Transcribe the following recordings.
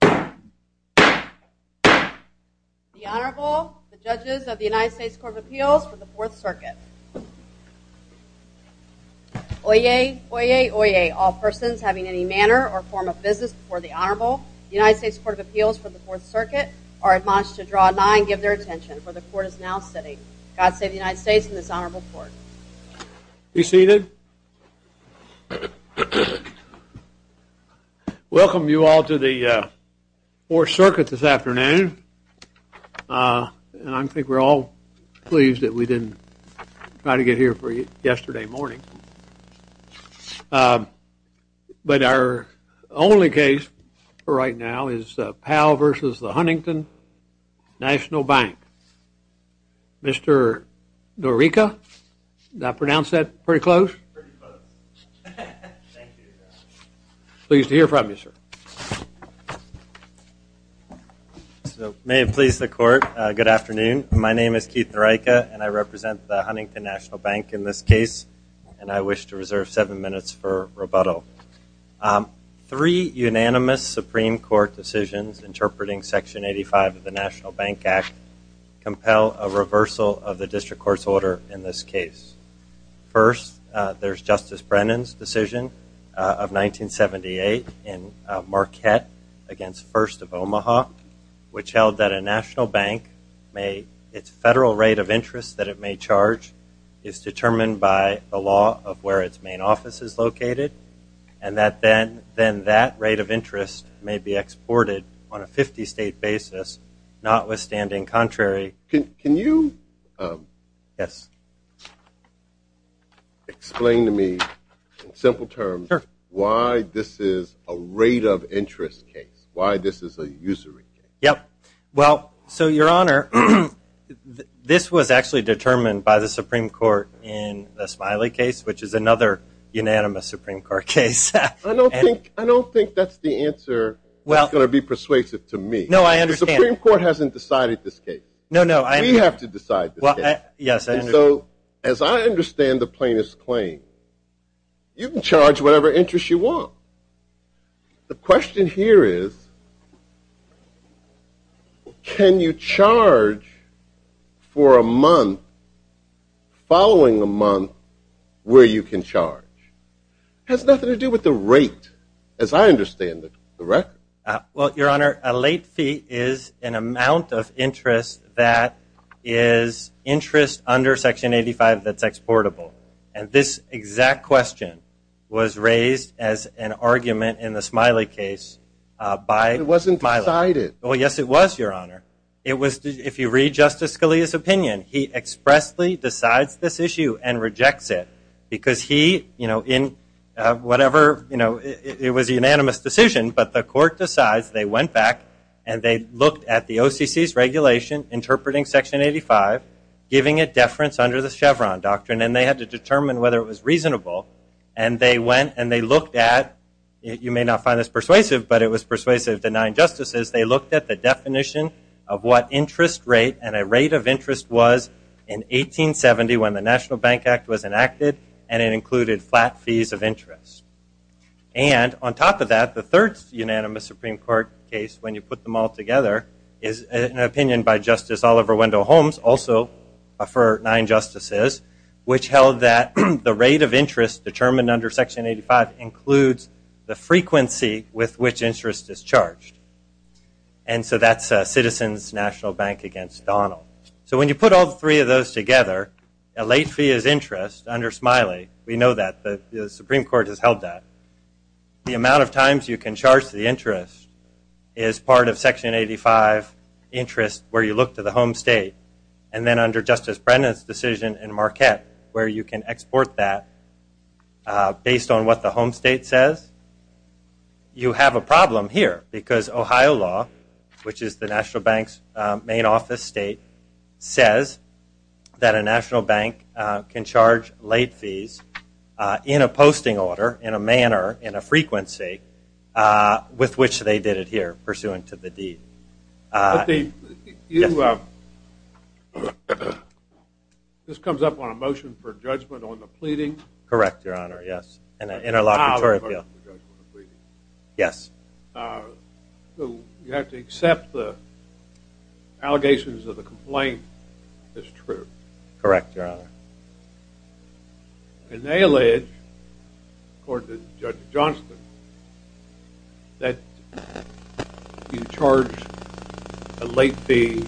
The Honorable, the Judges of the United States Court of Appeals for the Fourth Circuit. Oyez, oyez, oyez, all persons having any manner or form of business before the Honorable, the United States Court of Appeals for the Fourth Circuit, are admonished to draw a 9 and give their attention, for the Court is now sitting. God save the United States and this Honorable Court. Be seated. Welcome you all to the Fourth Circuit this afternoon. And I think we're all pleased that we didn't try to get here for yesterday morning. But our only case right now is Powell v. The Huntington National Bank. Mr. Norica, did I pronounce that pretty close? Pretty close. Thank you. Pleased to hear from you, sir. May it please the Court, good afternoon. My name is Keith Norica and I represent the Huntington National Bank in this case. And I wish to reserve seven minutes for rebuttal. Three unanimous Supreme Court decisions interpreting Section 85 of the National Bank Act compel a reversal of the district court's order in this case. First, there's Justice Brennan's decision of 1978 in Marquette against First of Omaha, which held that a national bank, its federal rate of interest that it may charge is determined by the law of where its main office is located and that then that rate of interest may be exported on a 50-state basis, notwithstanding contrary. Can you explain to me in simple terms why this is a rate of interest case, why this is a usury case? Yep. Well, so, Your Honor, this was actually determined by the Supreme Court in the Smiley case, which is another unanimous Supreme Court case. I don't think that's the answer that's going to be persuasive to me. No, I understand. The Supreme Court hasn't decided this case. No, no. We have to decide this case. Yes, I understand. And so, as I understand the plaintiff's claim, you can charge whatever interest you want. The question here is, can you charge for a month following a month where you can charge? It has nothing to do with the rate, as I understand it, correct? Well, Your Honor, a late fee is an amount of interest that is interest under Section 85 that's exportable. And this exact question was raised as an argument in the Smiley case by Smiley. It wasn't decided. Well, yes, it was, Your Honor. It was, if you read Justice Scalia's opinion, he expressly decides this issue and rejects it because he, you know, in whatever, you know, it was a unanimous decision, but the court decides they went back and they looked at the OCC's regulation interpreting Section 85, giving it deference under the Chevron doctrine, and they had to determine whether it was reasonable. And they went and they looked at, you may not find this persuasive, but it was persuasive to nine justices. They looked at the definition of what interest rate and a rate of interest was in 1870 when the National Bank Act was enacted, and it included flat fees of interest. And on top of that, the third unanimous Supreme Court case, when you put them all together, is an opinion by Justice Oliver Wendell Holmes, also for nine justices, which held that the rate of interest determined under Section 85 includes the frequency with which interest is charged. And so that's Citizens National Bank against Donald. So when you put all three of those together, a late fee is interest under Smiley. We know that. The Supreme Court has held that. The amount of times you can charge the interest is part of Section 85 interest where you look to the home state, and then under Justice Brennan's decision in Marquette where you can export that based on what the home state says. You have a problem here because Ohio law, which is the National Bank's main office state, says that a national bank can charge late fees in a posting order, in a manner, in a frequency, with which they did it here, pursuant to the deed. This comes up on a motion for judgment on the pleading? Correct, Your Honor, yes. And an interlocutory appeal. Yes. You have to accept the allegations of the complaint as true. Correct, Your Honor. And they allege, according to Judge Johnston, that you charge a late fee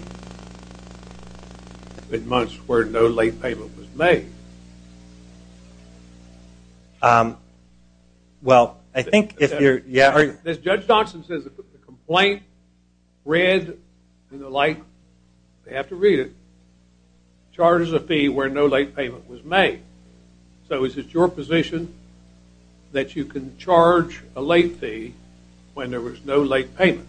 at months where no late payment was made. Well, I think if you're... Judge Johnston says the complaint, read, and the like, they have to read it, charges a fee where no late payment was made. So is it your position that you can charge a late fee when there was no late payment?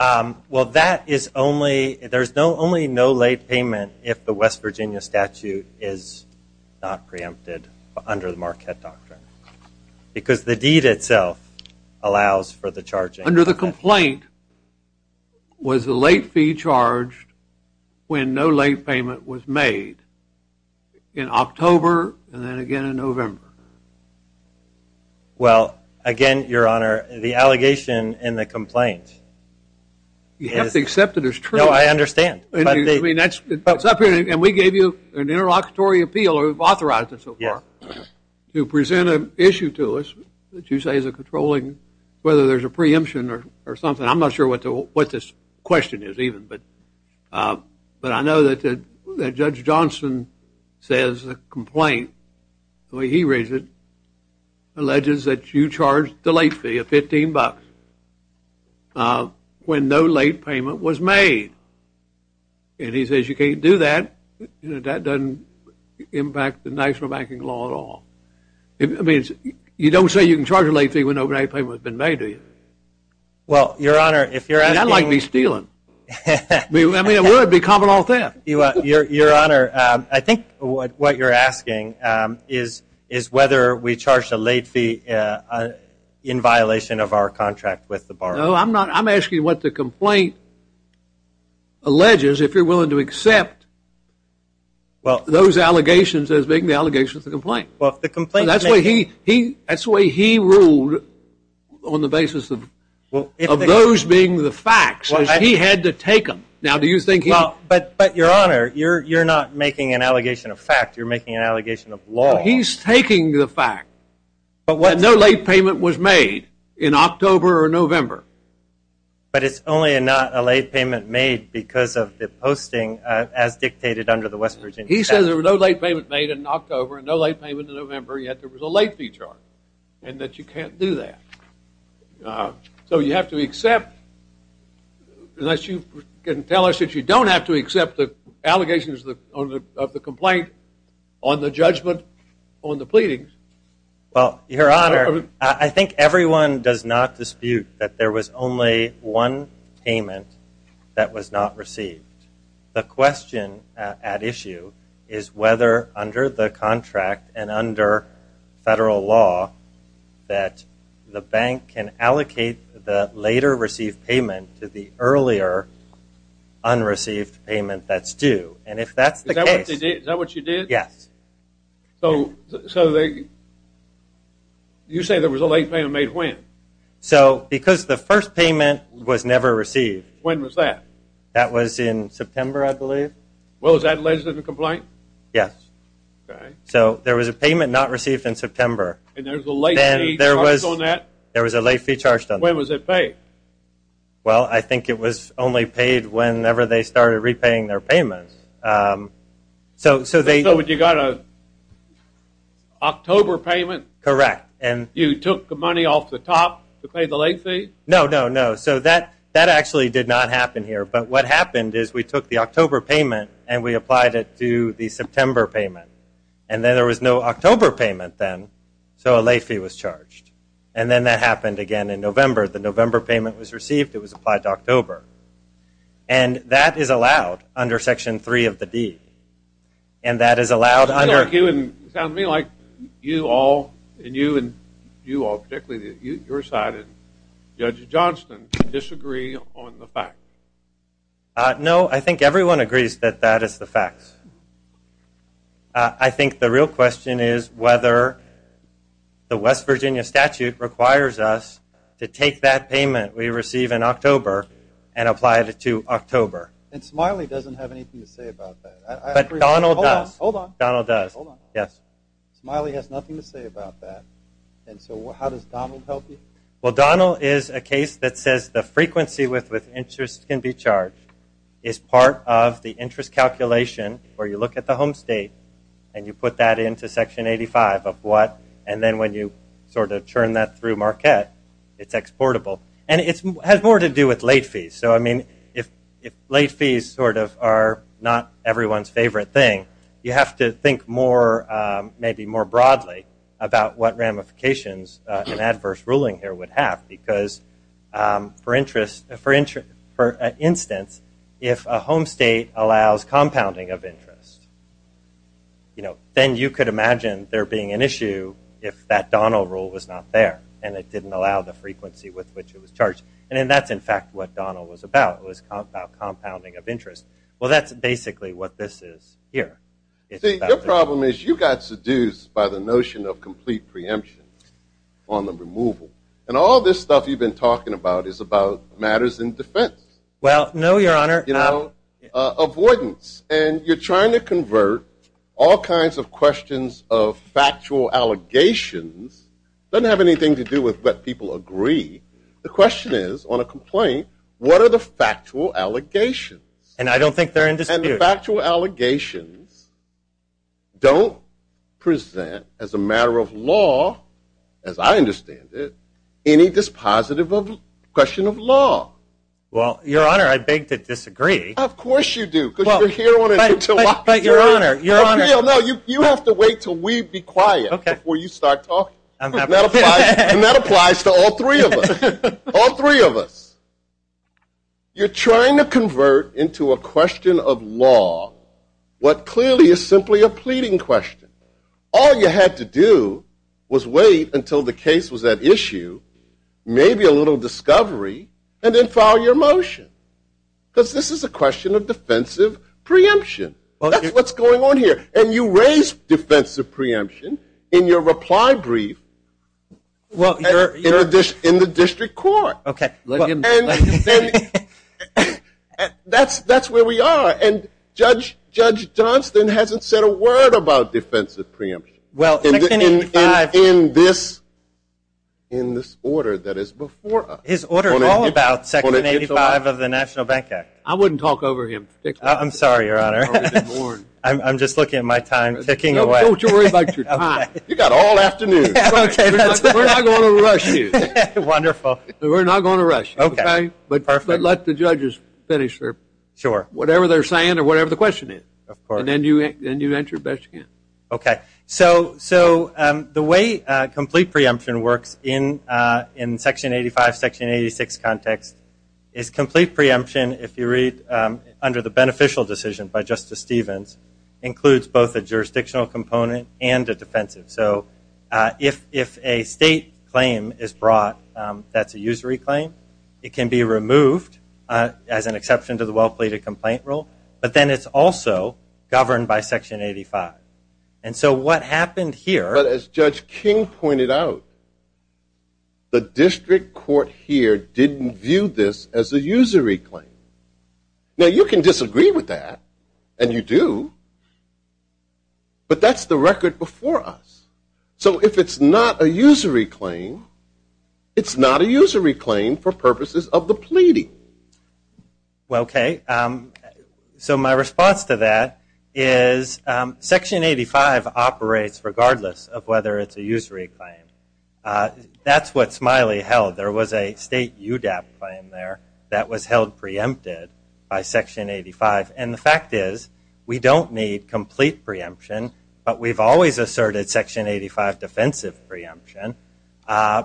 Well, that is only... There's only no late payment if the West Virginia statute is not preempted under the Marquette Doctrine, because the deed itself allows for the charging. Under the complaint was a late fee charged when no late payment was made in October and then again in November. Well, again, Your Honor, the allegation in the complaint is... You have to accept it as true. No, I understand. I mean, that's up here, and we gave you an interlocutory appeal, or we've authorized it so far, to present an issue to us that you say is a controlling, whether there's a preemption or something. I'm not sure what this question is even, but I know that Judge Johnston says the complaint, the way he reads it, alleges that you charged the late fee of $15 when no late payment was made. And he says you can't do that. You know, that doesn't impact the national banking law at all. I mean, you don't say you can charge a late fee when no late payment has been made, do you? Well, Your Honor, if you're asking... It's not like me stealing. I mean, it would be common law then. Your Honor, I think what you're asking is whether we charged a late fee in violation of our contract with the bar. No, I'm not. I'm asking what the complaint alleges, if you're willing to accept those allegations as being the allegations of the complaint. That's the way he ruled on the basis of those being the facts. He had to take them. Now, do you think he... But, Your Honor, you're not making an allegation of fact. You're making an allegation of law. He's taking the fact that no late payment was made in October or November. But it's only not a late payment made because of the posting as dictated under the West Virginia statute. He says there was no late payment made in October and no late payment in November, yet there was a late fee charge and that you can't do that. So you have to accept, unless you can tell us that you don't have to accept the allegations of the complaint on the judgment on the pleadings. Well, Your Honor, I think everyone does not dispute that there was only one payment that was not received. The question at issue is whether, under the contract and under federal law, that the bank can allocate the later received payment to the earlier unreceived payment that's due. And if that's the case... Is that what you did? Yes. So you say there was a late payment made when? So, because the first payment was never received. When was that? That was in September, I believe. Well, is that alleged of the complaint? Yes. Okay. So there was a payment not received in September. And there was a late fee charged on that? There was a late fee charged on that. When was it paid? Well, I think it was only paid whenever they started repaying their payment. So you got an October payment? Correct. You took the money off the top to pay the late fee? No, no, no. So that actually did not happen here. But what happened is we took the October payment and we applied it to the September payment. And then there was no October payment then, so a late fee was charged. And then that happened again in November. The November payment was received. It was applied to October. And that is allowed under Section 3 of the deed. And that is allowed under... It sounds to me like you all and you and you all, particularly your side and Judge Johnston, disagree on the fact. No, I think everyone agrees that that is the fact. I think the real question is whether the West Virginia statute requires us to take that payment we received in October and apply it to October. And Smiley doesn't have anything to say about that. But Donald does. Hold on. Donald does. Hold on. Yes. Smiley has nothing to say about that. And so how does Donald help you? Well, Donald is a case that says the frequency with which interest can be charged is part of the interest calculation where you look at the home state and you put that into Section 85 of what, and then when you sort of churn that through Marquette, it's exportable. And it has more to do with late fees. So, I mean, if late fees sort of are not everyone's favorite thing, you have to think maybe more broadly about what ramifications an adverse ruling here would have because, for instance, if a home state allows compounding of interest, then you could imagine there being an issue if that Donald rule was not there and it didn't allow the frequency with which it was charged. And that's, in fact, what Donald was about. It was compounding of interest. Well, that's basically what this is here. See, your problem is you got seduced by the notion of complete preemption on the removal. And all this stuff you've been talking about is about matters in defense. Well, no, Your Honor. You know, avoidance. And you're trying to convert all kinds of questions of factual allegations. It doesn't have anything to do with what people agree. The question is, on a complaint, what are the factual allegations? And I don't think they're in dispute. And the factual allegations don't present, as a matter of law, as I understand it, any dispositive of a question of law. Well, Your Honor, I beg to disagree. Of course you do because you're here on a Tuesday. But, Your Honor, Your Honor. No, you have to wait until we be quiet before you start talking. And that applies to all three of us. All three of us. You're trying to convert into a question of law what clearly is simply a pleading question. All you had to do was wait until the case was at issue, maybe a little discovery, and then file your motion because this is a question of defensive preemption. That's what's going on here. And you raise defensive preemption in your reply brief in the district court. That's where we are. And Judge Johnston hasn't said a word about defensive preemption in this order that is before us. His order is all about Section 85 of the National Bank Act. I wouldn't talk over him. I'm sorry, Your Honor. I'm just looking at my time ticking away. Don't you worry about your time. You've got all afternoon. We're not going to rush you. Wonderful. We're not going to rush you. Okay. But let the judges finish whatever they're saying or whatever the question is. Of course. And then you answer best you can. Okay. So the way complete preemption works in Section 85, Section 86 context is complete preemption, if you read under the beneficial decision by Justice Stevens, includes both a jurisdictional component and a defensive. So if a state claim is brought that's a usury claim, it can be removed as an exception to the well-pleaded complaint rule. But then it's also governed by Section 85. And so what happened here. But as Judge King pointed out, the district court here didn't view this as a usury claim. Now, you can disagree with that, and you do, but that's the record before us. So if it's not a usury claim, it's not a usury claim for purposes of the pleading. Okay. So my response to that is Section 85 operates regardless of whether it's a usury claim. That's what Smiley held. There was a state UDAP claim there that was held preempted by Section 85. And the fact is we don't need complete preemption, but we've always asserted Section 85 defensive preemption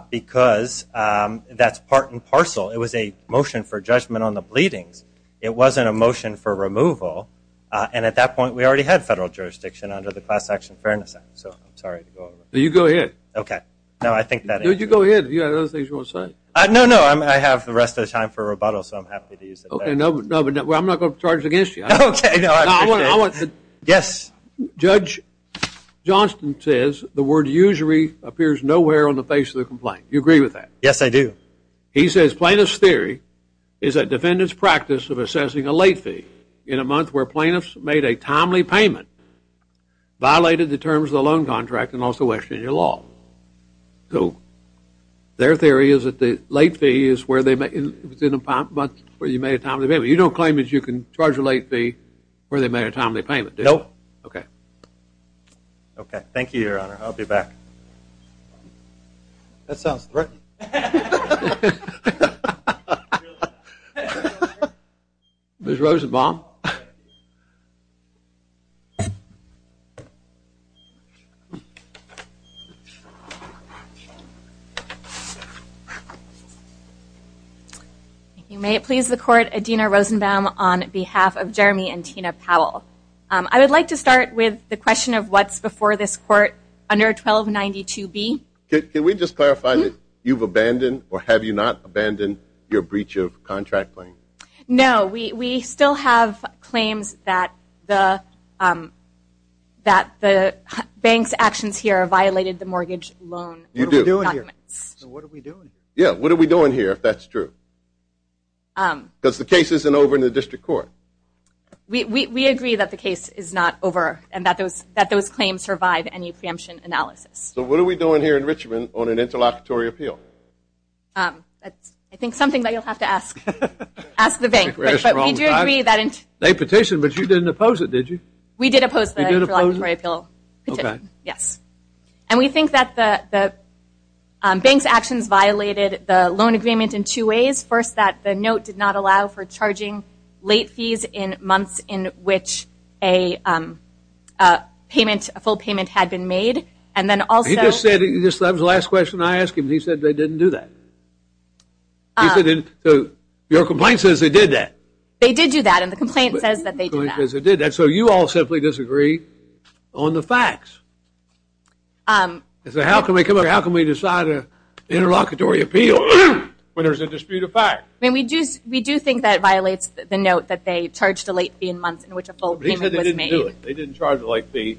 because that's part and parcel. It was a motion for judgment on the pleadings. It wasn't a motion for removal. And at that point, we already had federal jurisdiction under the Class Action Fairness Act. So I'm sorry to go over that. You go ahead. Okay. No, I think that answers it. No, you go ahead. Do you have other things you want to say? No, no. I have the rest of the time for rebuttal, so I'm happy to use that. Okay. No, but I'm not going to charge against you. Okay. No, I appreciate it. Yes. Judge Johnston says the word usury appears nowhere on the face of the complaint. Do you agree with that? Yes, I do. He says plaintiff's theory is that defendants' practice of assessing a late fee in a month where plaintiffs made a timely payment violated the terms of the loan contract and also questioned your law. So their theory is that the late fee is where you made a timely payment. You don't claim that you can charge a late fee where they made a timely payment, do you? No. Okay. Okay. Thank you, Your Honor. I'll be back. That sounds threatening. Ms. Rosenbaum? If you may, it pleases the Court, Adina Rosenbaum on behalf of Jeremy and Tina Powell. I would like to start with the question of what's before this Court under 1292B. Can we just clarify that you've abandoned or have you not abandoned your breach of contract claim? No. We still have claims that the bank's actions here violated the mortgage loan. You do. What are we doing here? Yeah, what are we doing here, if that's true? Because the case isn't over in the district court. We agree that the case is not over and that those claims survive any preemption analysis. So what are we doing here in Richmond on an interlocutory appeal? That's, I think, something that you'll have to ask the bank. Ask the bank. They petitioned, but you didn't oppose it, did you? We did oppose the interlocutory appeal petition. Okay. Yes. And we think that the bank's actions violated the loan agreement in two ways. First, that the note did not allow for charging late fees in months in which a payment, a full payment, had been made. And then also- He just said, that was the last question I asked him, and he said they didn't do that. Your complaint says they did that. They did do that, and the complaint says that they did that. So you all simply disagree on the facts. So how can we decide an interlocutory appeal when there's a dispute of fact? I mean, we do think that it violates the note that they charged a late fee in months in which a full payment was made. They said they didn't do it. They didn't charge a late fee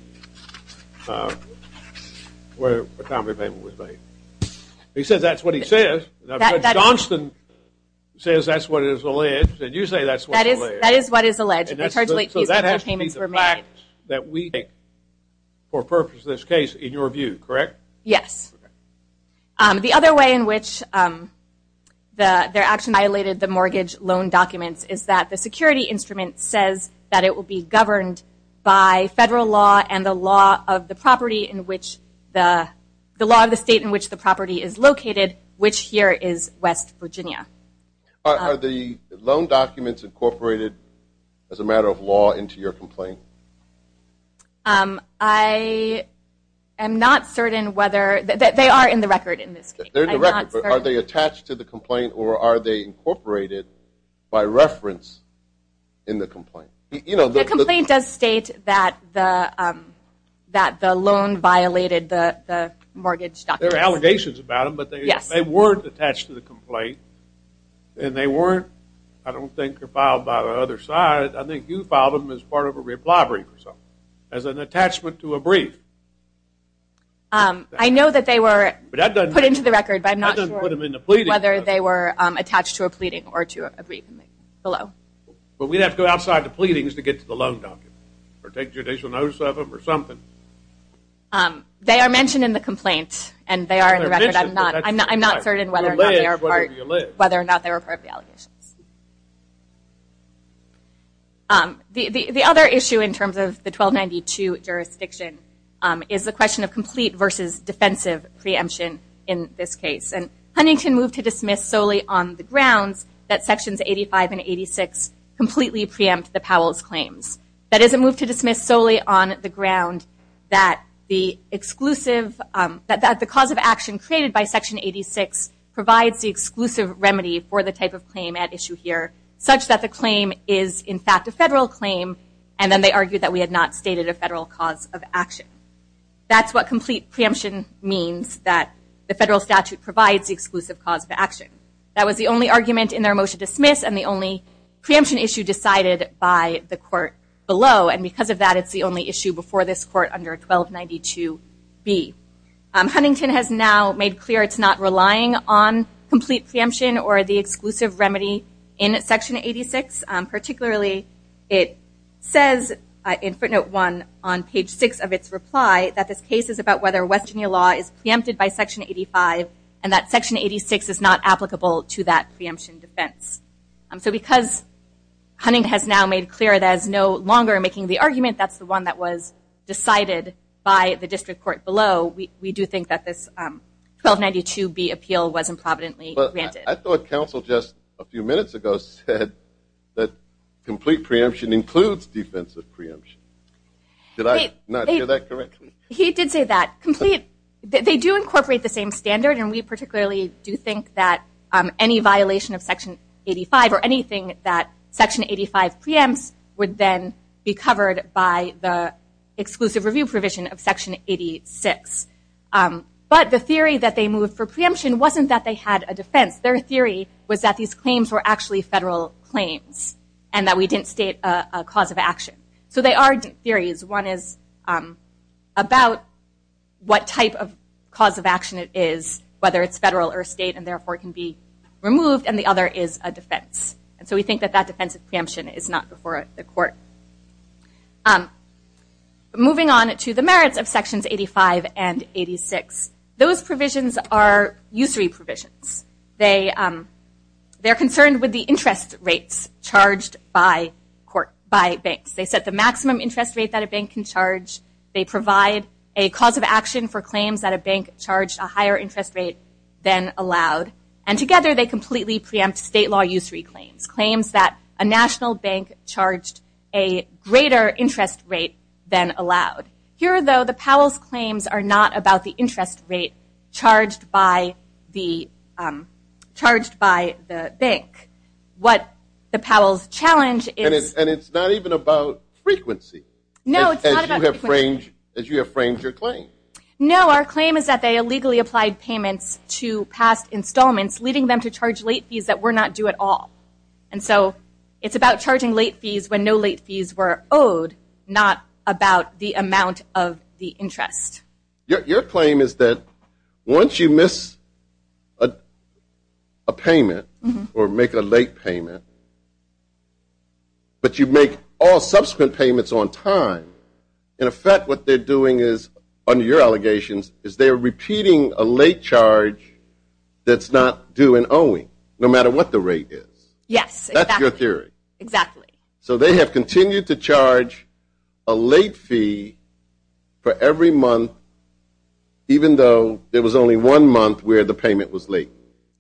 for the time the payment was made. He says that's what he says. Johnston says that's what is alleged, and you say that's what is alleged. That is what is alleged. So that has to be the fact that we take for purpose in this case, in your view, correct? Yes. The other way in which their action violated the mortgage loan documents is that the security instrument says that it will be governed by federal law and the law of the state in which the property is located, which here is West Virginia. Are the loan documents incorporated as a matter of law into your complaint? I am not certain whether – they are in the record in this case. They're in the record, but are they attached to the complaint, or are they incorporated by reference in the complaint? The complaint does state that the loan violated the mortgage documents. There are allegations about them, but they weren't attached to the complaint. And they weren't, I don't think, filed by the other side. I think you filed them as part of a reply brief or something, as an attachment to a brief. I know that they were put into the record, but I'm not sure whether they were attached to a pleading or to a brief below. But we'd have to go outside the pleadings to get to the loan documents or take judicial notice of them or something. They are mentioned in the complaint, and they are in the record. I'm not certain whether or not they were part of the allegations. The other issue in terms of the 1292 jurisdiction is the question of complete versus defensive preemption in this case. And Huntington moved to dismiss solely on the grounds that Sections 85 and 86 completely preempt the Powell's claims. That is, it moved to dismiss solely on the ground that the cause of action created by Section 86 provides the exclusive remedy for the type of claim at issue here, such that the claim is, in fact, a federal claim. And then they argued that we had not stated a federal cause of action. That's what complete preemption means, that the federal statute provides the exclusive cause of action. That was the only argument in their motion to dismiss and the only preemption issue decided by the court below. And because of that, it's the only issue before this court under 1292B. Huntington has now made clear it's not relying on complete preemption or the exclusive remedy in Section 86. Particularly, it says in footnote 1 on page 6 of its reply that this case is about whether West Virginia law is preempted by Section 85 and that Section 86 is not applicable to that preemption defense. So because Huntington has now made clear that it's no longer making the argument, that's the one that was decided by the district court below, we do think that this 1292B appeal was improvidently granted. But I thought counsel just a few minutes ago said that complete preemption includes defensive preemption. Did I not hear that correctly? He did say that. They do incorporate the same standard and we particularly do think that any violation of Section 85 or anything that Section 85 preempts would then be covered by the exclusive review provision of Section 86. But the theory that they moved for preemption wasn't that they had a defense. Their theory was that these claims were actually federal claims and that we didn't state a cause of action. So they are theories. One is about what type of cause of action it is, whether it's federal or state, and therefore can be removed, and the other is a defense. And so we think that that defensive preemption is not before the court. Moving on to the merits of Sections 85 and 86, those provisions are usury provisions. They are concerned with the interest rates charged by banks. They set the maximum interest rate that a bank can charge. They provide a cause of action for claims that a bank charged a higher interest rate than allowed. And together they completely preempt state law usury claims, claims that a national bank charged a greater interest rate than allowed. Here, though, the Powell's claims are not about the interest rate charged by the bank. What the Powell's challenge is- And it's not even about frequency. No, it's not about frequency. As you have framed your claim. No, our claim is that they illegally applied payments to past installments, leading them to charge late fees that were not due at all. And so it's about charging late fees when no late fees were owed, not about the amount of the interest. Your claim is that once you miss a payment or make a late payment, but you make all subsequent payments on time, in effect what they're doing is, under your allegations, is they're repeating a late charge that's not due and owing, no matter what the rate is. Yes, exactly. That's your theory. Exactly. So they have continued to charge a late fee for every month, even though there was only one month where the payment was late.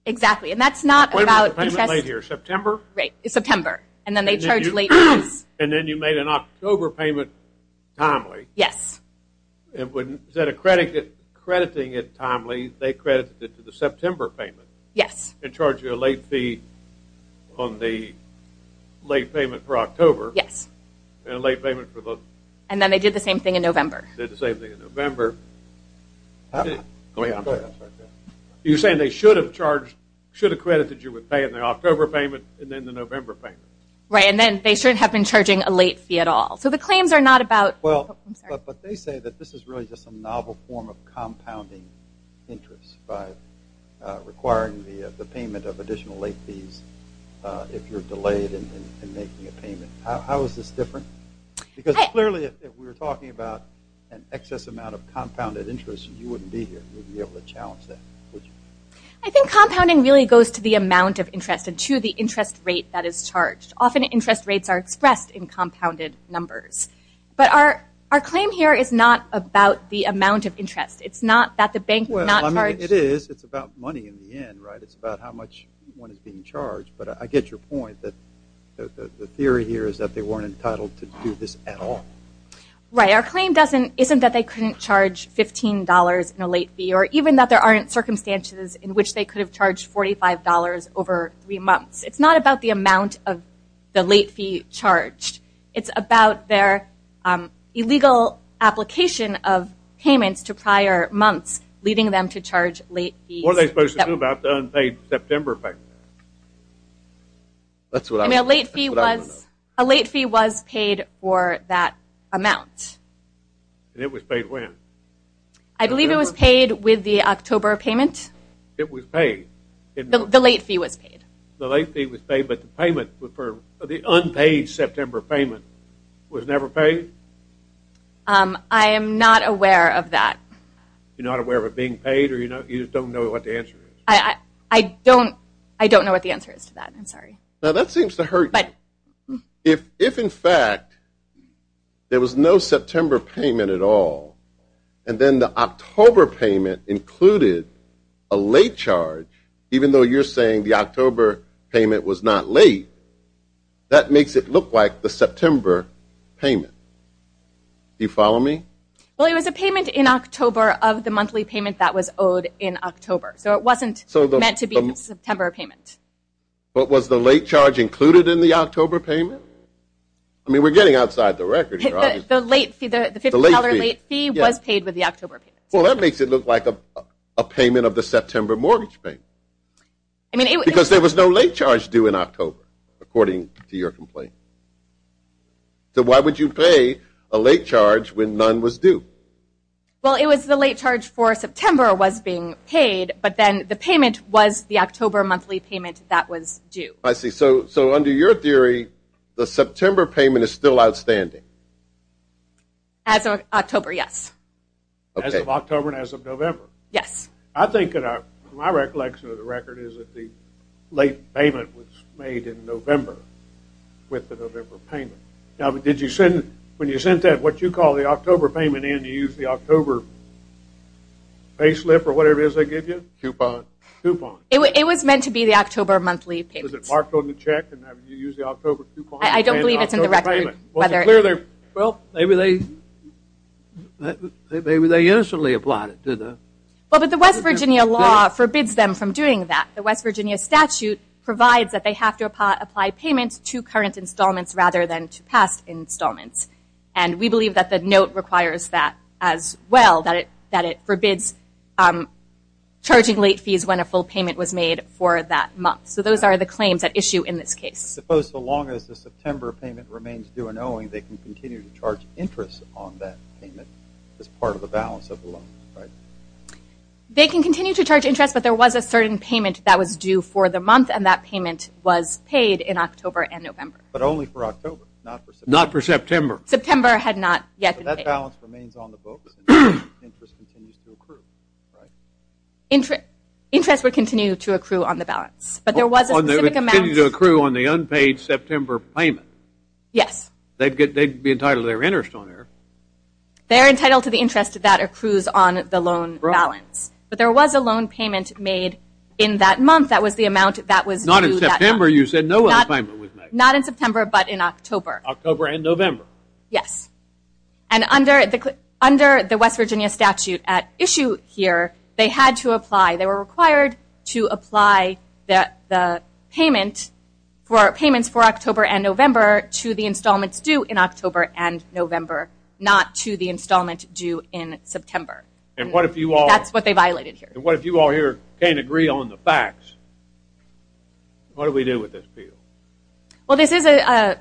Exactly. And that's not about- When was the payment made here, September? Right, September. And then they charged late fees. And then you made an October payment timely. Yes. Is that accrediting it timely? They credited it to the September payment? Yes. And charged you a late fee on the late payment for October. Yes. And a late payment for the- And then they did the same thing in November. Did the same thing in November. You're saying they should have credited you with paying the October payment and then the November payment. Right, and then they shouldn't have been charging a late fee at all. So the claims are not about- Well, but they say that this is really just a novel form of compounding interest by requiring the payment of additional late fees if you're delayed in making a payment. How is this different? Because clearly if we were talking about an excess amount of compounded interest, you wouldn't be here. You wouldn't be able to challenge that. I think compounding really goes to the amount of interest and to the interest rate that is charged. Often interest rates are expressed in compounded numbers. But our claim here is not about the amount of interest. It's not that the bank would not charge- Well, I mean, it is. It's about money in the end, right? It's about how much one is being charged. But I get your point that the theory here is that they weren't entitled to do this at all. Right. Our claim isn't that they couldn't charge $15 in a late fee or even that there aren't circumstances in which they could have charged $45 over three months. It's not about the amount of the late fee charged. It's about their illegal application of payments to prior months, leading them to charge late fees. What are they supposed to do about the unpaid September payment? I mean, a late fee was paid for that amount. And it was paid when? I believe it was paid with the October payment. It was paid? The late fee was paid. The late fee was paid, but the payment for the unpaid September payment was never paid? I am not aware of that. You're not aware of it being paid, or you just don't know what the answer is? I don't know what the answer is to that. I'm sorry. Now, that seems to hurt. If, in fact, there was no September payment at all, and then the October payment included a late charge, even though you're saying the October payment was not late, that makes it look like the September payment. Do you follow me? Well, it was a payment in October of the monthly payment that was owed in October. So it wasn't meant to be the September payment. But was the late charge included in the October payment? I mean, we're getting outside the record here. The late fee, the $50 late fee, was paid with the October payment. Well, that makes it look like a payment of the September mortgage payment. Because there was no late charge due in October, according to your complaint. So why would you pay a late charge when none was due? Well, it was the late charge for September was being paid, but then the payment was the October monthly payment that was due. I see. So under your theory, the September payment is still outstanding? As of October, yes. As of October and as of November? Yes. I think, in my recollection of the record, is that the late payment was made in November with the November payment. Now, when you sent that what you call the October payment in, you used the October payslip or whatever it is they give you? Coupon. Coupon. It was meant to be the October monthly payment. Was it marked on the check and you used the October coupon? I don't believe it's in the record. Well, maybe they innocently applied it. Well, but the West Virginia law forbids them from doing that. The West Virginia statute provides that they have to apply payments to current installments rather than to past installments. And we believe that the note requires that as well, that it forbids charging late fees when a full payment was made for that month. So those are the claims at issue in this case. Suppose so long as the September payment remains due and owing, they can continue to charge interest on that payment as part of the balance of the loan, right? They can continue to charge interest, but there was a certain payment that was due for the month, and that payment was paid in October and November. But only for October, not for September. Not for September. September had not yet been paid. So that balance remains on the books and interest continues to accrue, right? Interest would continue to accrue on the balance, but there was a specific amount. They continue to accrue on the unpaid September payment. Yes. They'd be entitled to their interest on there. They're entitled to the interest that accrues on the loan balance. But there was a loan payment made in that month. That was the amount that was due that month. Not in September. You said no loan payment was made. Not in September, but in October. October and November. Yes. And under the West Virginia statute at issue here, they had to apply, they were required to apply the payments for October and November to the installments due in October and November, not to the installment due in September. And what if you all... That's what they violated here. And what if you all here can't agree on the facts? What do we do with this appeal? Well, this is an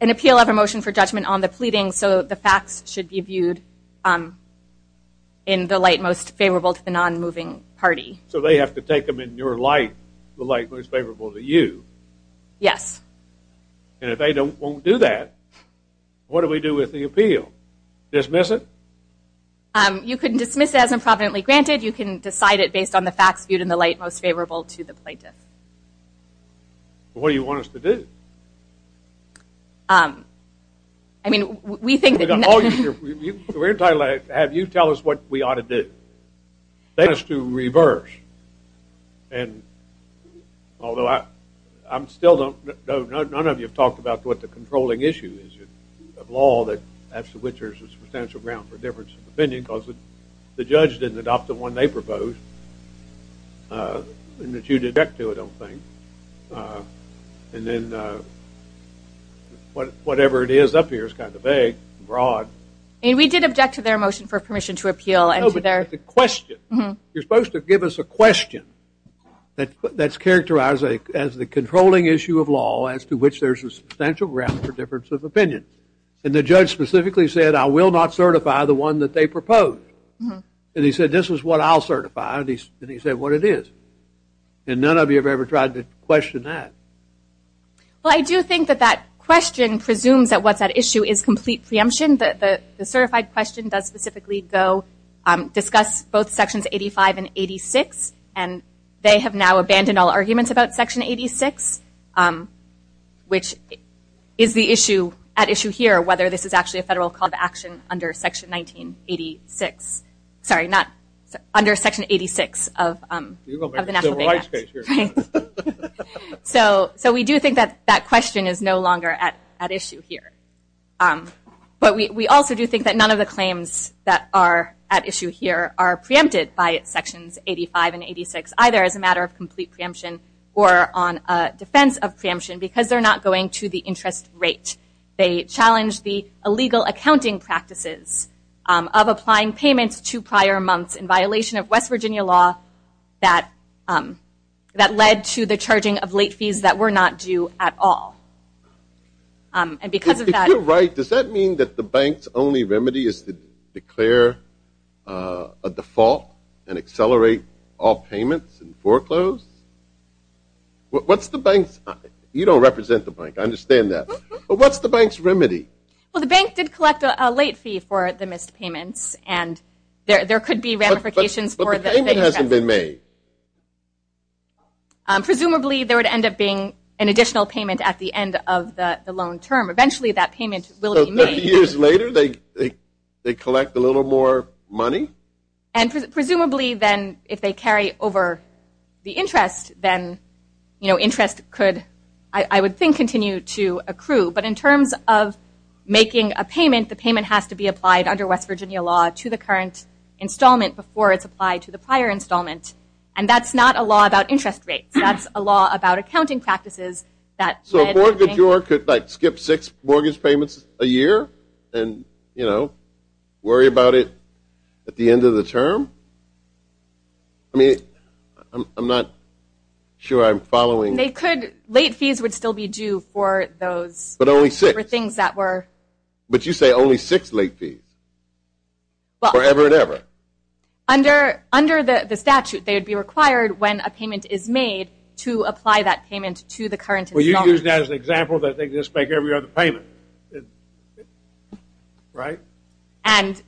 appeal of a motion for judgment on the pleading, so the facts should be viewed in the light most favorable to the non-moving party. So they have to take them in your light, the light most favorable to you. Yes. And if they won't do that, what do we do with the appeal? Dismiss it? You can dismiss it as improvidently granted. You can decide it based on the facts viewed in the light most favorable to the plaintiff. What do you want us to do? I mean, we think that... We're entitled to have you tell us what we ought to do. They want us to reverse. And although I still don't know, none of you have talked about what the controlling issue is of law that has to which there's a substantial ground for difference of opinion because the judge didn't adopt the one they proposed, and that you didn't object to it, I don't think. And then whatever it is up here is kind of vague and broad. I mean, we did object to their motion for permission to appeal and to their... No, but it's a question. You're supposed to give us a question that's characterized as the controlling issue of law as to which there's a substantial ground for difference of opinion. And the judge specifically said, I will not certify the one that they proposed. And he said, this is what I'll certify. And he said, what it is. And none of you have ever tried to question that. Well, I do think that that question presumes that what's at issue is complete preemption. The certified question does specifically go discuss both Sections 85 and 86, and they have now abandoned all arguments about Section 86, which is the issue at issue here, whether this is actually a federal call to action under Section 1986. Sorry, under Section 86 of the National Bank Act. So we do think that that question is no longer at issue here. But we also do think that none of the claims that are at issue here are preempted by Sections 85 and 86, either as a matter of complete preemption or on defense of preemption because they're not going to the interest rate. They challenge the illegal accounting practices of applying payments to prior months in violation of West Virginia law that led to the charging of late fees that were not due at all. If you're right, does that mean that the bank's only remedy is to declare a default and accelerate all payments and foreclosures? What's the bank's? You don't represent the bank. I understand that. But what's the bank's remedy? Well, the bank did collect a late fee for the missed payments, and there could be ramifications for the missed payments. But the payment hasn't been made. Presumably, there would end up being an additional payment at the end of the loan term. Eventually, that payment will be made. So 30 years later, they collect a little more money? And presumably, then, if they carry over the interest, then interest could, I would think, continue to accrue. But in terms of making a payment, the payment has to be applied under West Virginia law to the current installment before it's applied to the prior installment. And that's not a law about interest rates. That's a law about accounting practices that led to the bank. So a mortgagor could, like, skip six mortgage payments a year and worry about it at the end of the term? I mean, I'm not sure I'm following. They could. Late fees would still be due for those. But only six. For things that were. But you say only six late fees. Well. Forever and ever. Under the statute, they would be required, when a payment is made, to apply that payment to the current installment. Well, you used that as an example that they just make every other payment. Right? And.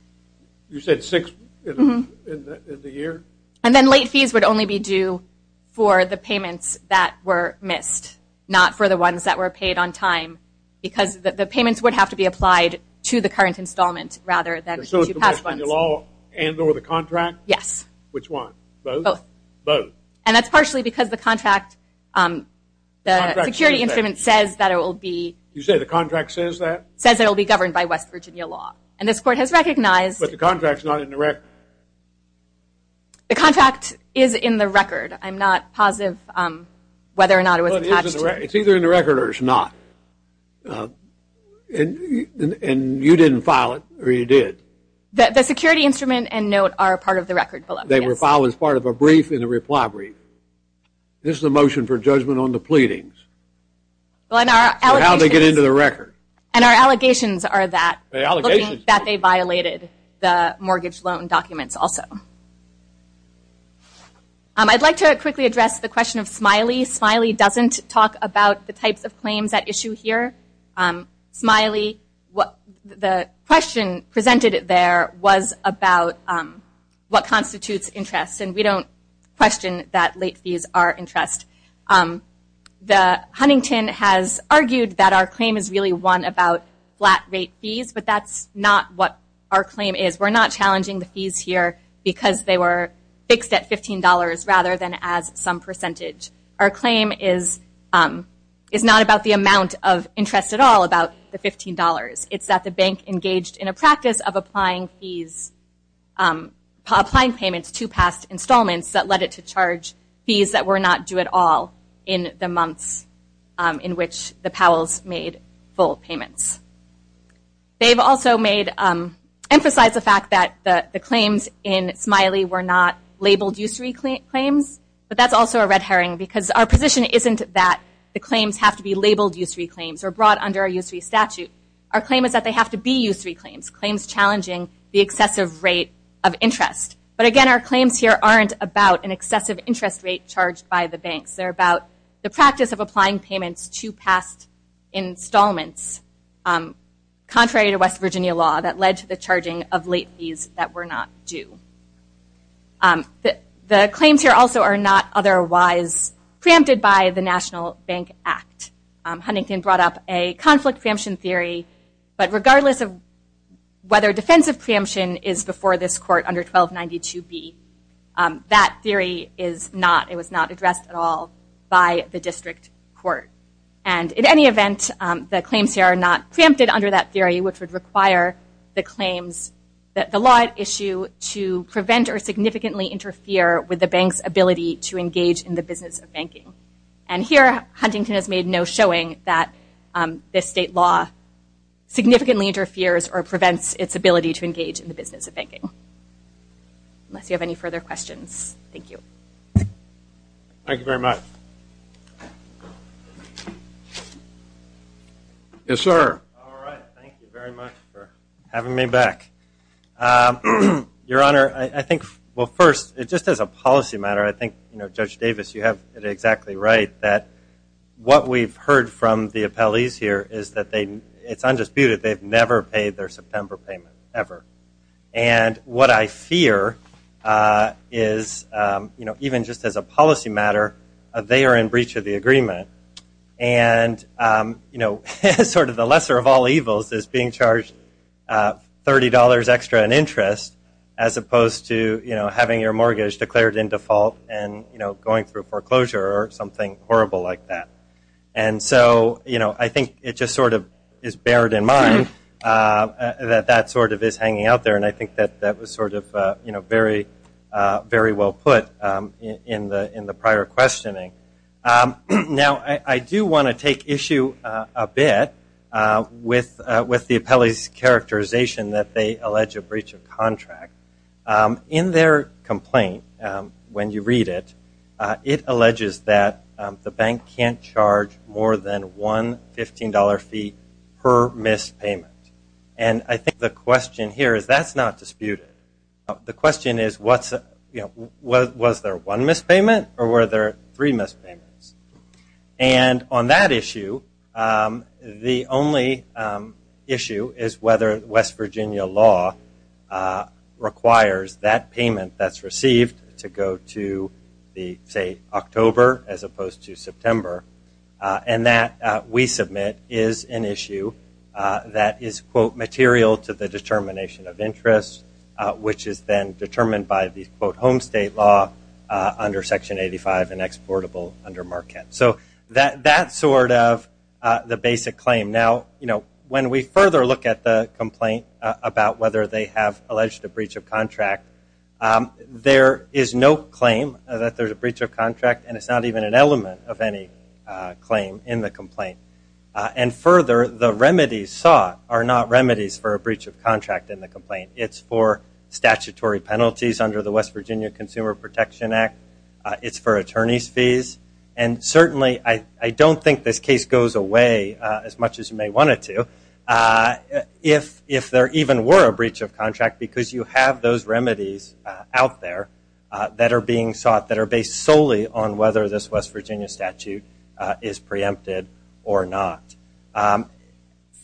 You said six? In the year? And then late fees would only be due for the payments that were missed, not for the ones that were paid on time, because the payments would have to be applied to the current installment rather than to past ones. So it's the West Virginia law and or the contract? Yes. Which one? Both. Both. And that's partially because the contract, the security instrument says that it will be. You said the contract says that? Says it will be governed by West Virginia law. And this court has recognized. But the contract's not in the record. The contract is in the record. I'm not positive whether or not it was attached. It's either in the record or it's not. And you didn't file it, or you did. The security instrument and note are part of the record below. They were filed as part of a brief and a reply brief. This is a motion for judgment on the pleadings. Well, in our allegations. So how did they get into the record? And our allegations are that. Allegations. Allegations that they violated the mortgage loan documents also. I'd like to quickly address the question of Smiley. Smiley doesn't talk about the types of claims at issue here. Smiley, the question presented there was about what constitutes interest, and we don't question that late fees are interest. The Huntington has argued that our claim is really one about flat rate fees, but that's not what our claim is. We're not challenging the fees here because they were fixed at $15 rather than as some percentage. Our claim is not about the amount of interest at all about the $15. It's that the bank engaged in a practice of applying fees, applying payments to past installments that led it to charge fees that were not due at all in the months in which the Powells made full payments. They've also emphasized the fact that the claims in Smiley were not labeled usury claims, but that's also a red herring because our position isn't that the claims have to be labeled usury claims or brought under a usury statute. Our claim is that they have to be usury claims. Claims challenging the excessive rate of interest. But again, our claims here aren't about an excessive interest rate charged by the banks. They're about the practice of applying payments to past installments contrary to West Virginia law that led to the charging of late fees that were not due. The claims here also are not otherwise preempted by the National Bank Act. Huntington brought up a conflict preemption theory, but regardless of whether defensive preemption is before this court under 1292B, that theory is not, it was not addressed at all by the district court. And in any event, the claims here are not preempted under that theory, which would require the claims, the law at issue to prevent or significantly interfere with the bank's ability to engage in the business of banking. And here, Huntington has made no showing that this state law significantly interferes unless you have any further questions. Thank you. Thank you very much. Yes, sir. All right. Thank you very much for having me back. Your Honor, I think, well, first, just as a policy matter, I think, you know, Judge Davis, you have it exactly right that what we've heard from the appellees here is that they, it's undisputed, they've never paid their September payment, ever. And what I fear is, you know, even just as a policy matter, they are in breach of the agreement. And, you know, sort of the lesser of all evils is being charged $30 extra in interest as opposed to, you know, having your mortgage declared in default and, you know, going through foreclosure or something horrible like that. And so, you know, I think it just sort of is bared in mind that that sort of is hanging out there. And I think that that was sort of, you know, very well put in the prior questioning. Now, I do want to take issue a bit with the appellee's characterization that they allege a breach of contract. In their complaint, when you read it, it alleges that the bank can't charge more than one $15 fee per missed payment. And I think the question here is that's not disputed. The question is, you know, was there one missed payment or were there three missed payments? And on that issue, the only issue is whether West Virginia law requires that payment that's received to go to the, say, October as opposed to September. And that, we submit, is an issue that is, quote, material to the determination of interest, which is then determined by the, quote, home state law under Section 85 and exportable under Marquette. So that's sort of the basic claim. Now, you know, when we further look at the complaint about whether they have alleged a breach of contract, there is no claim that there's a breach of contract, and it's not even an element of any claim in the complaint. And further, the remedies sought are not remedies for a breach of contract in the complaint. It's for statutory penalties under the West Virginia Consumer Protection Act. It's for attorney's fees. And certainly I don't think this case goes away as much as you may want it to if there even were a breach of contract, because you have those remedies out there that are being sought, that are based solely on whether this West Virginia statute is preempted or not.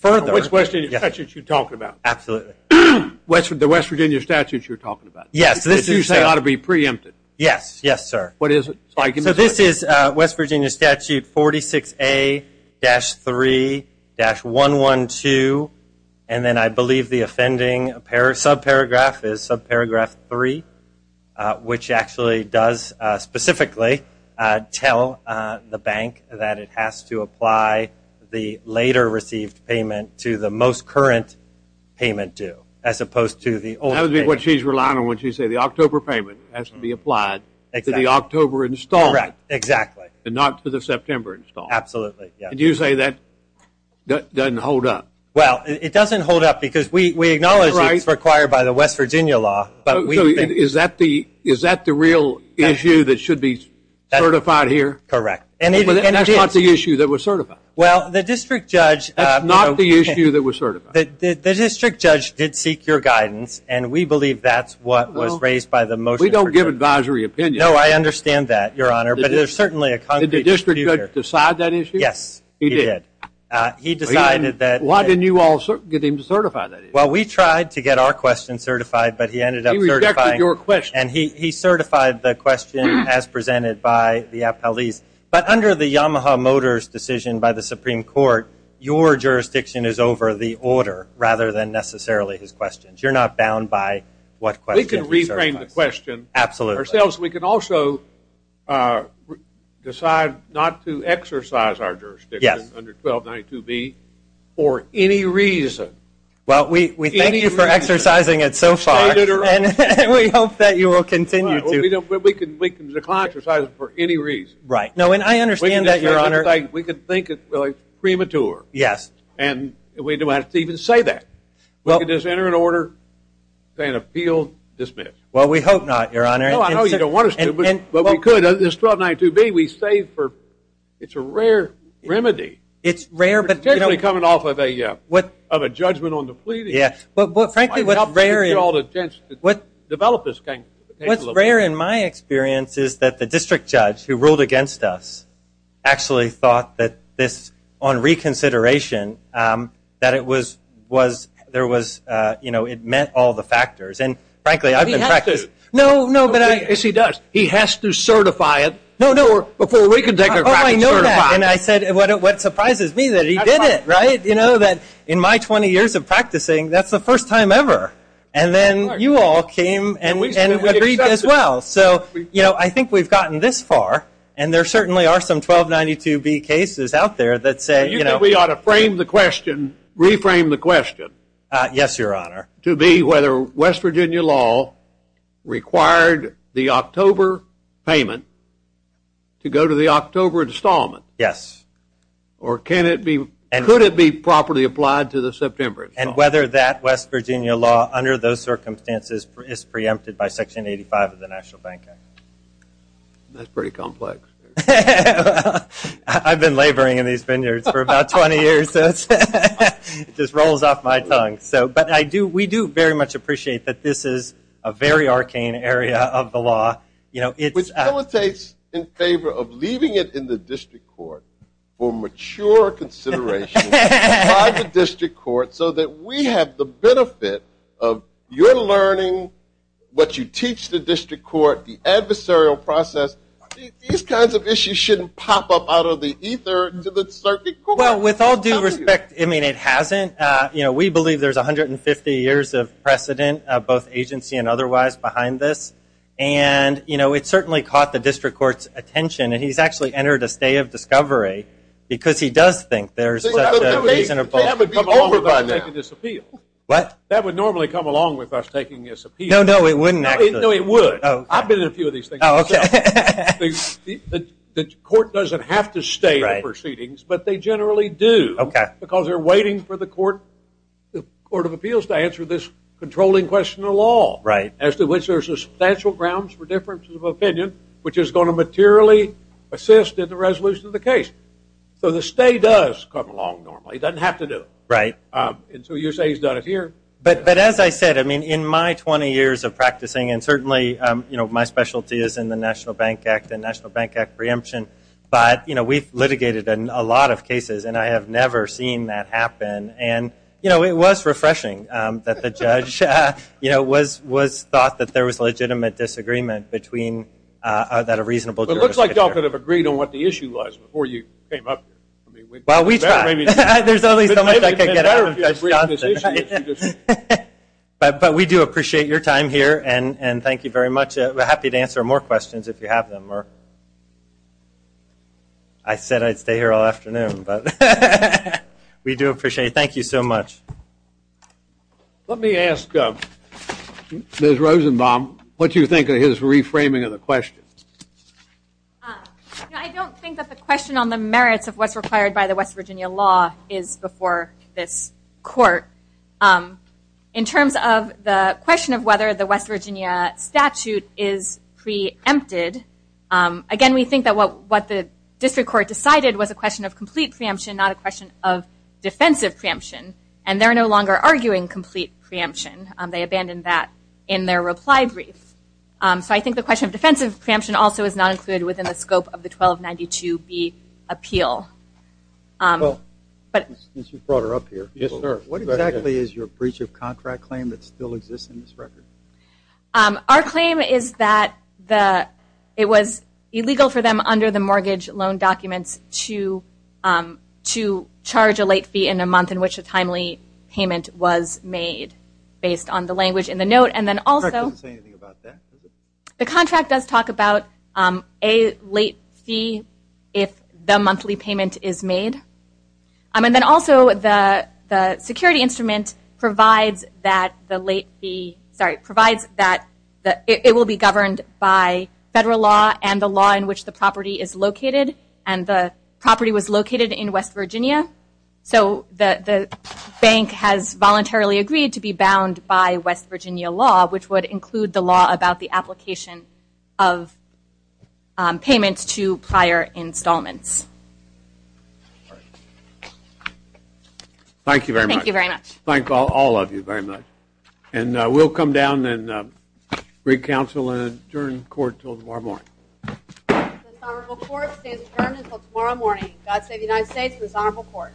Which West Virginia statute are you talking about? Absolutely. The West Virginia statute you're talking about. Yes. This you say ought to be preempted. Yes. Yes, sir. What is it? So this is West Virginia Statute 46A-3-112, and then I believe the offending subparagraph is subparagraph 3, which actually does specifically tell the bank that it has to apply the later received payment to the most current payment due, as opposed to the old payment. That would be what she's relying on when she says the October payment has to be applied to the October installment. Correct. Exactly. And not to the September installment. Absolutely. And you say that doesn't hold up. Well, it doesn't hold up because we acknowledge it's required by the West Virginia law. So is that the real issue that should be certified here? Correct. And that's not the issue that was certified. Well, the district judge – That's not the issue that was certified. The district judge did seek your guidance, and we believe that's what was raised by the motion. We don't give advisory opinion. No, I understand that, Your Honor, but there's certainly a concrete – Did the district judge decide that issue? Yes, he did. He decided that – Why didn't you all get him to certify that issue? Well, we tried to get our question certified, but he ended up certifying – He rejected your question. And he certified the question as presented by the appellees. But under the Yamaha Motors decision by the Supreme Court, your jurisdiction is over the order rather than necessarily his questions. You're not bound by what question he certifies. We can restrain the question ourselves. We can also decide not to exercise our jurisdiction under 1292B for any reason. Well, we thank you for exercising it so far, and we hope that you will continue to. We can decline to exercise it for any reason. Right. No, and I understand that, Your Honor. We can think it really premature. Yes. And we don't have to even say that. We can just enter an order, say an appeal, dismiss. Well, we hope not, Your Honor. No, I know you don't want us to, but we could. This 1292B, we saved for – it's a rare remedy. It's rare, but – But, frankly, what's rare is – What's rare in my experience is that the district judge who ruled against us actually thought that this, on reconsideration, that it was – there was – you know, it meant all the factors. And, frankly, I've been practicing – No, no, but I – Yes, he does. He has to certify it. No, no, before we can take a – Oh, I know that. And I said, what surprises me is that he did it, right? You know, that in my 20 years of practicing, that's the first time ever. And then you all came and agreed as well. So, you know, I think we've gotten this far, and there certainly are some 1292B cases out there that say – You think we ought to frame the question – reframe the question – Yes, Your Honor. – to be whether West Virginia law required the October payment to go to the October installment. Yes. Or can it be – could it be properly applied to the September installment? And whether that West Virginia law, under those circumstances, is preempted by Section 85 of the National Bank Act. That's pretty complex. I've been laboring in these vineyards for about 20 years, so it's – it just rolls off my tongue. So – but I do – we do very much appreciate that this is a very arcane area of the law. You know, it's – Which facilitates in favor of leaving it in the district court for mature consideration by the district court, so that we have the benefit of your learning, what you teach the district court, the adversarial process. These kinds of issues shouldn't pop up out of the ether to the circuit court. Well, with all due respect, I mean, it hasn't. You know, we believe there's 150 years of precedent, both agency and otherwise, behind this. And, you know, it certainly caught the district court's attention. And he's actually entered a state of discovery, because he does think there's such a reasonable – They haven't come along with us taking this appeal. What? That would normally come along with us taking this appeal. No, no, it wouldn't actually. No, it would. Oh, okay. I've been in a few of these things myself. Oh, okay. The court doesn't have to stay in proceedings, but they generally do. Okay. Because they're waiting for the court – the court of appeals to answer this controlling question of law. Right. As to which there's substantial grounds for differences of opinion, which is going to materially assist in the resolution of the case. So the stay does come along normally. It doesn't have to do it. Right. And so you say he's done it here. But as I said, I mean, in my 20 years of practicing – and certainly, you know, my specialty is in the National Bank Act and National Bank Act preemption. But, you know, we've litigated a lot of cases, and I have never seen that happen. And, you know, it was refreshing that the judge, you know, was thought that there was legitimate disagreement between – that a reasonable jurisdiction. But it looks like y'all could have agreed on what the issue was before you came up here. Well, we tried. There's only so much I could get out of this. But we do appreciate your time here, and thank you very much. We're happy to answer more questions if you have them. I said I'd stay here all afternoon. But we do appreciate it. Thank you so much. Let me ask Ms. Rosenbaum what you think of his reframing of the question. I don't think that the question on the merits of what's required by the West Virginia law is before this court. In terms of the question of whether the West Virginia statute is preempted, again, we think that what the district court decided was a question of complete preemption, not a question of defensive preemption. And they're no longer arguing complete preemption. They abandoned that in their reply brief. So I think the question of defensive preemption also is not included within the scope of the 1292B appeal. Since you brought her up here, what exactly is your breach of contract claim that still exists in this record? Our claim is that it was illegal for them under the mortgage loan documents to charge a late fee in a month in which a timely payment was made, based on the language in the note. The contract doesn't say anything about that, does it? The contract does talk about a late fee if the monthly payment is made. And then also the security instrument provides that it will be governed by federal law and the law in which the property is located. And the property was located in West Virginia. So the bank has voluntarily agreed to be bound by West Virginia law, which would include the law about the application of payments to prior installments. All right. Thank you very much. Thank you very much. Thank all of you very much. And we'll come down and reconcile and adjourn court until tomorrow morning. This honorable court stands adjourned until tomorrow morning. God save the United States and this honorable court.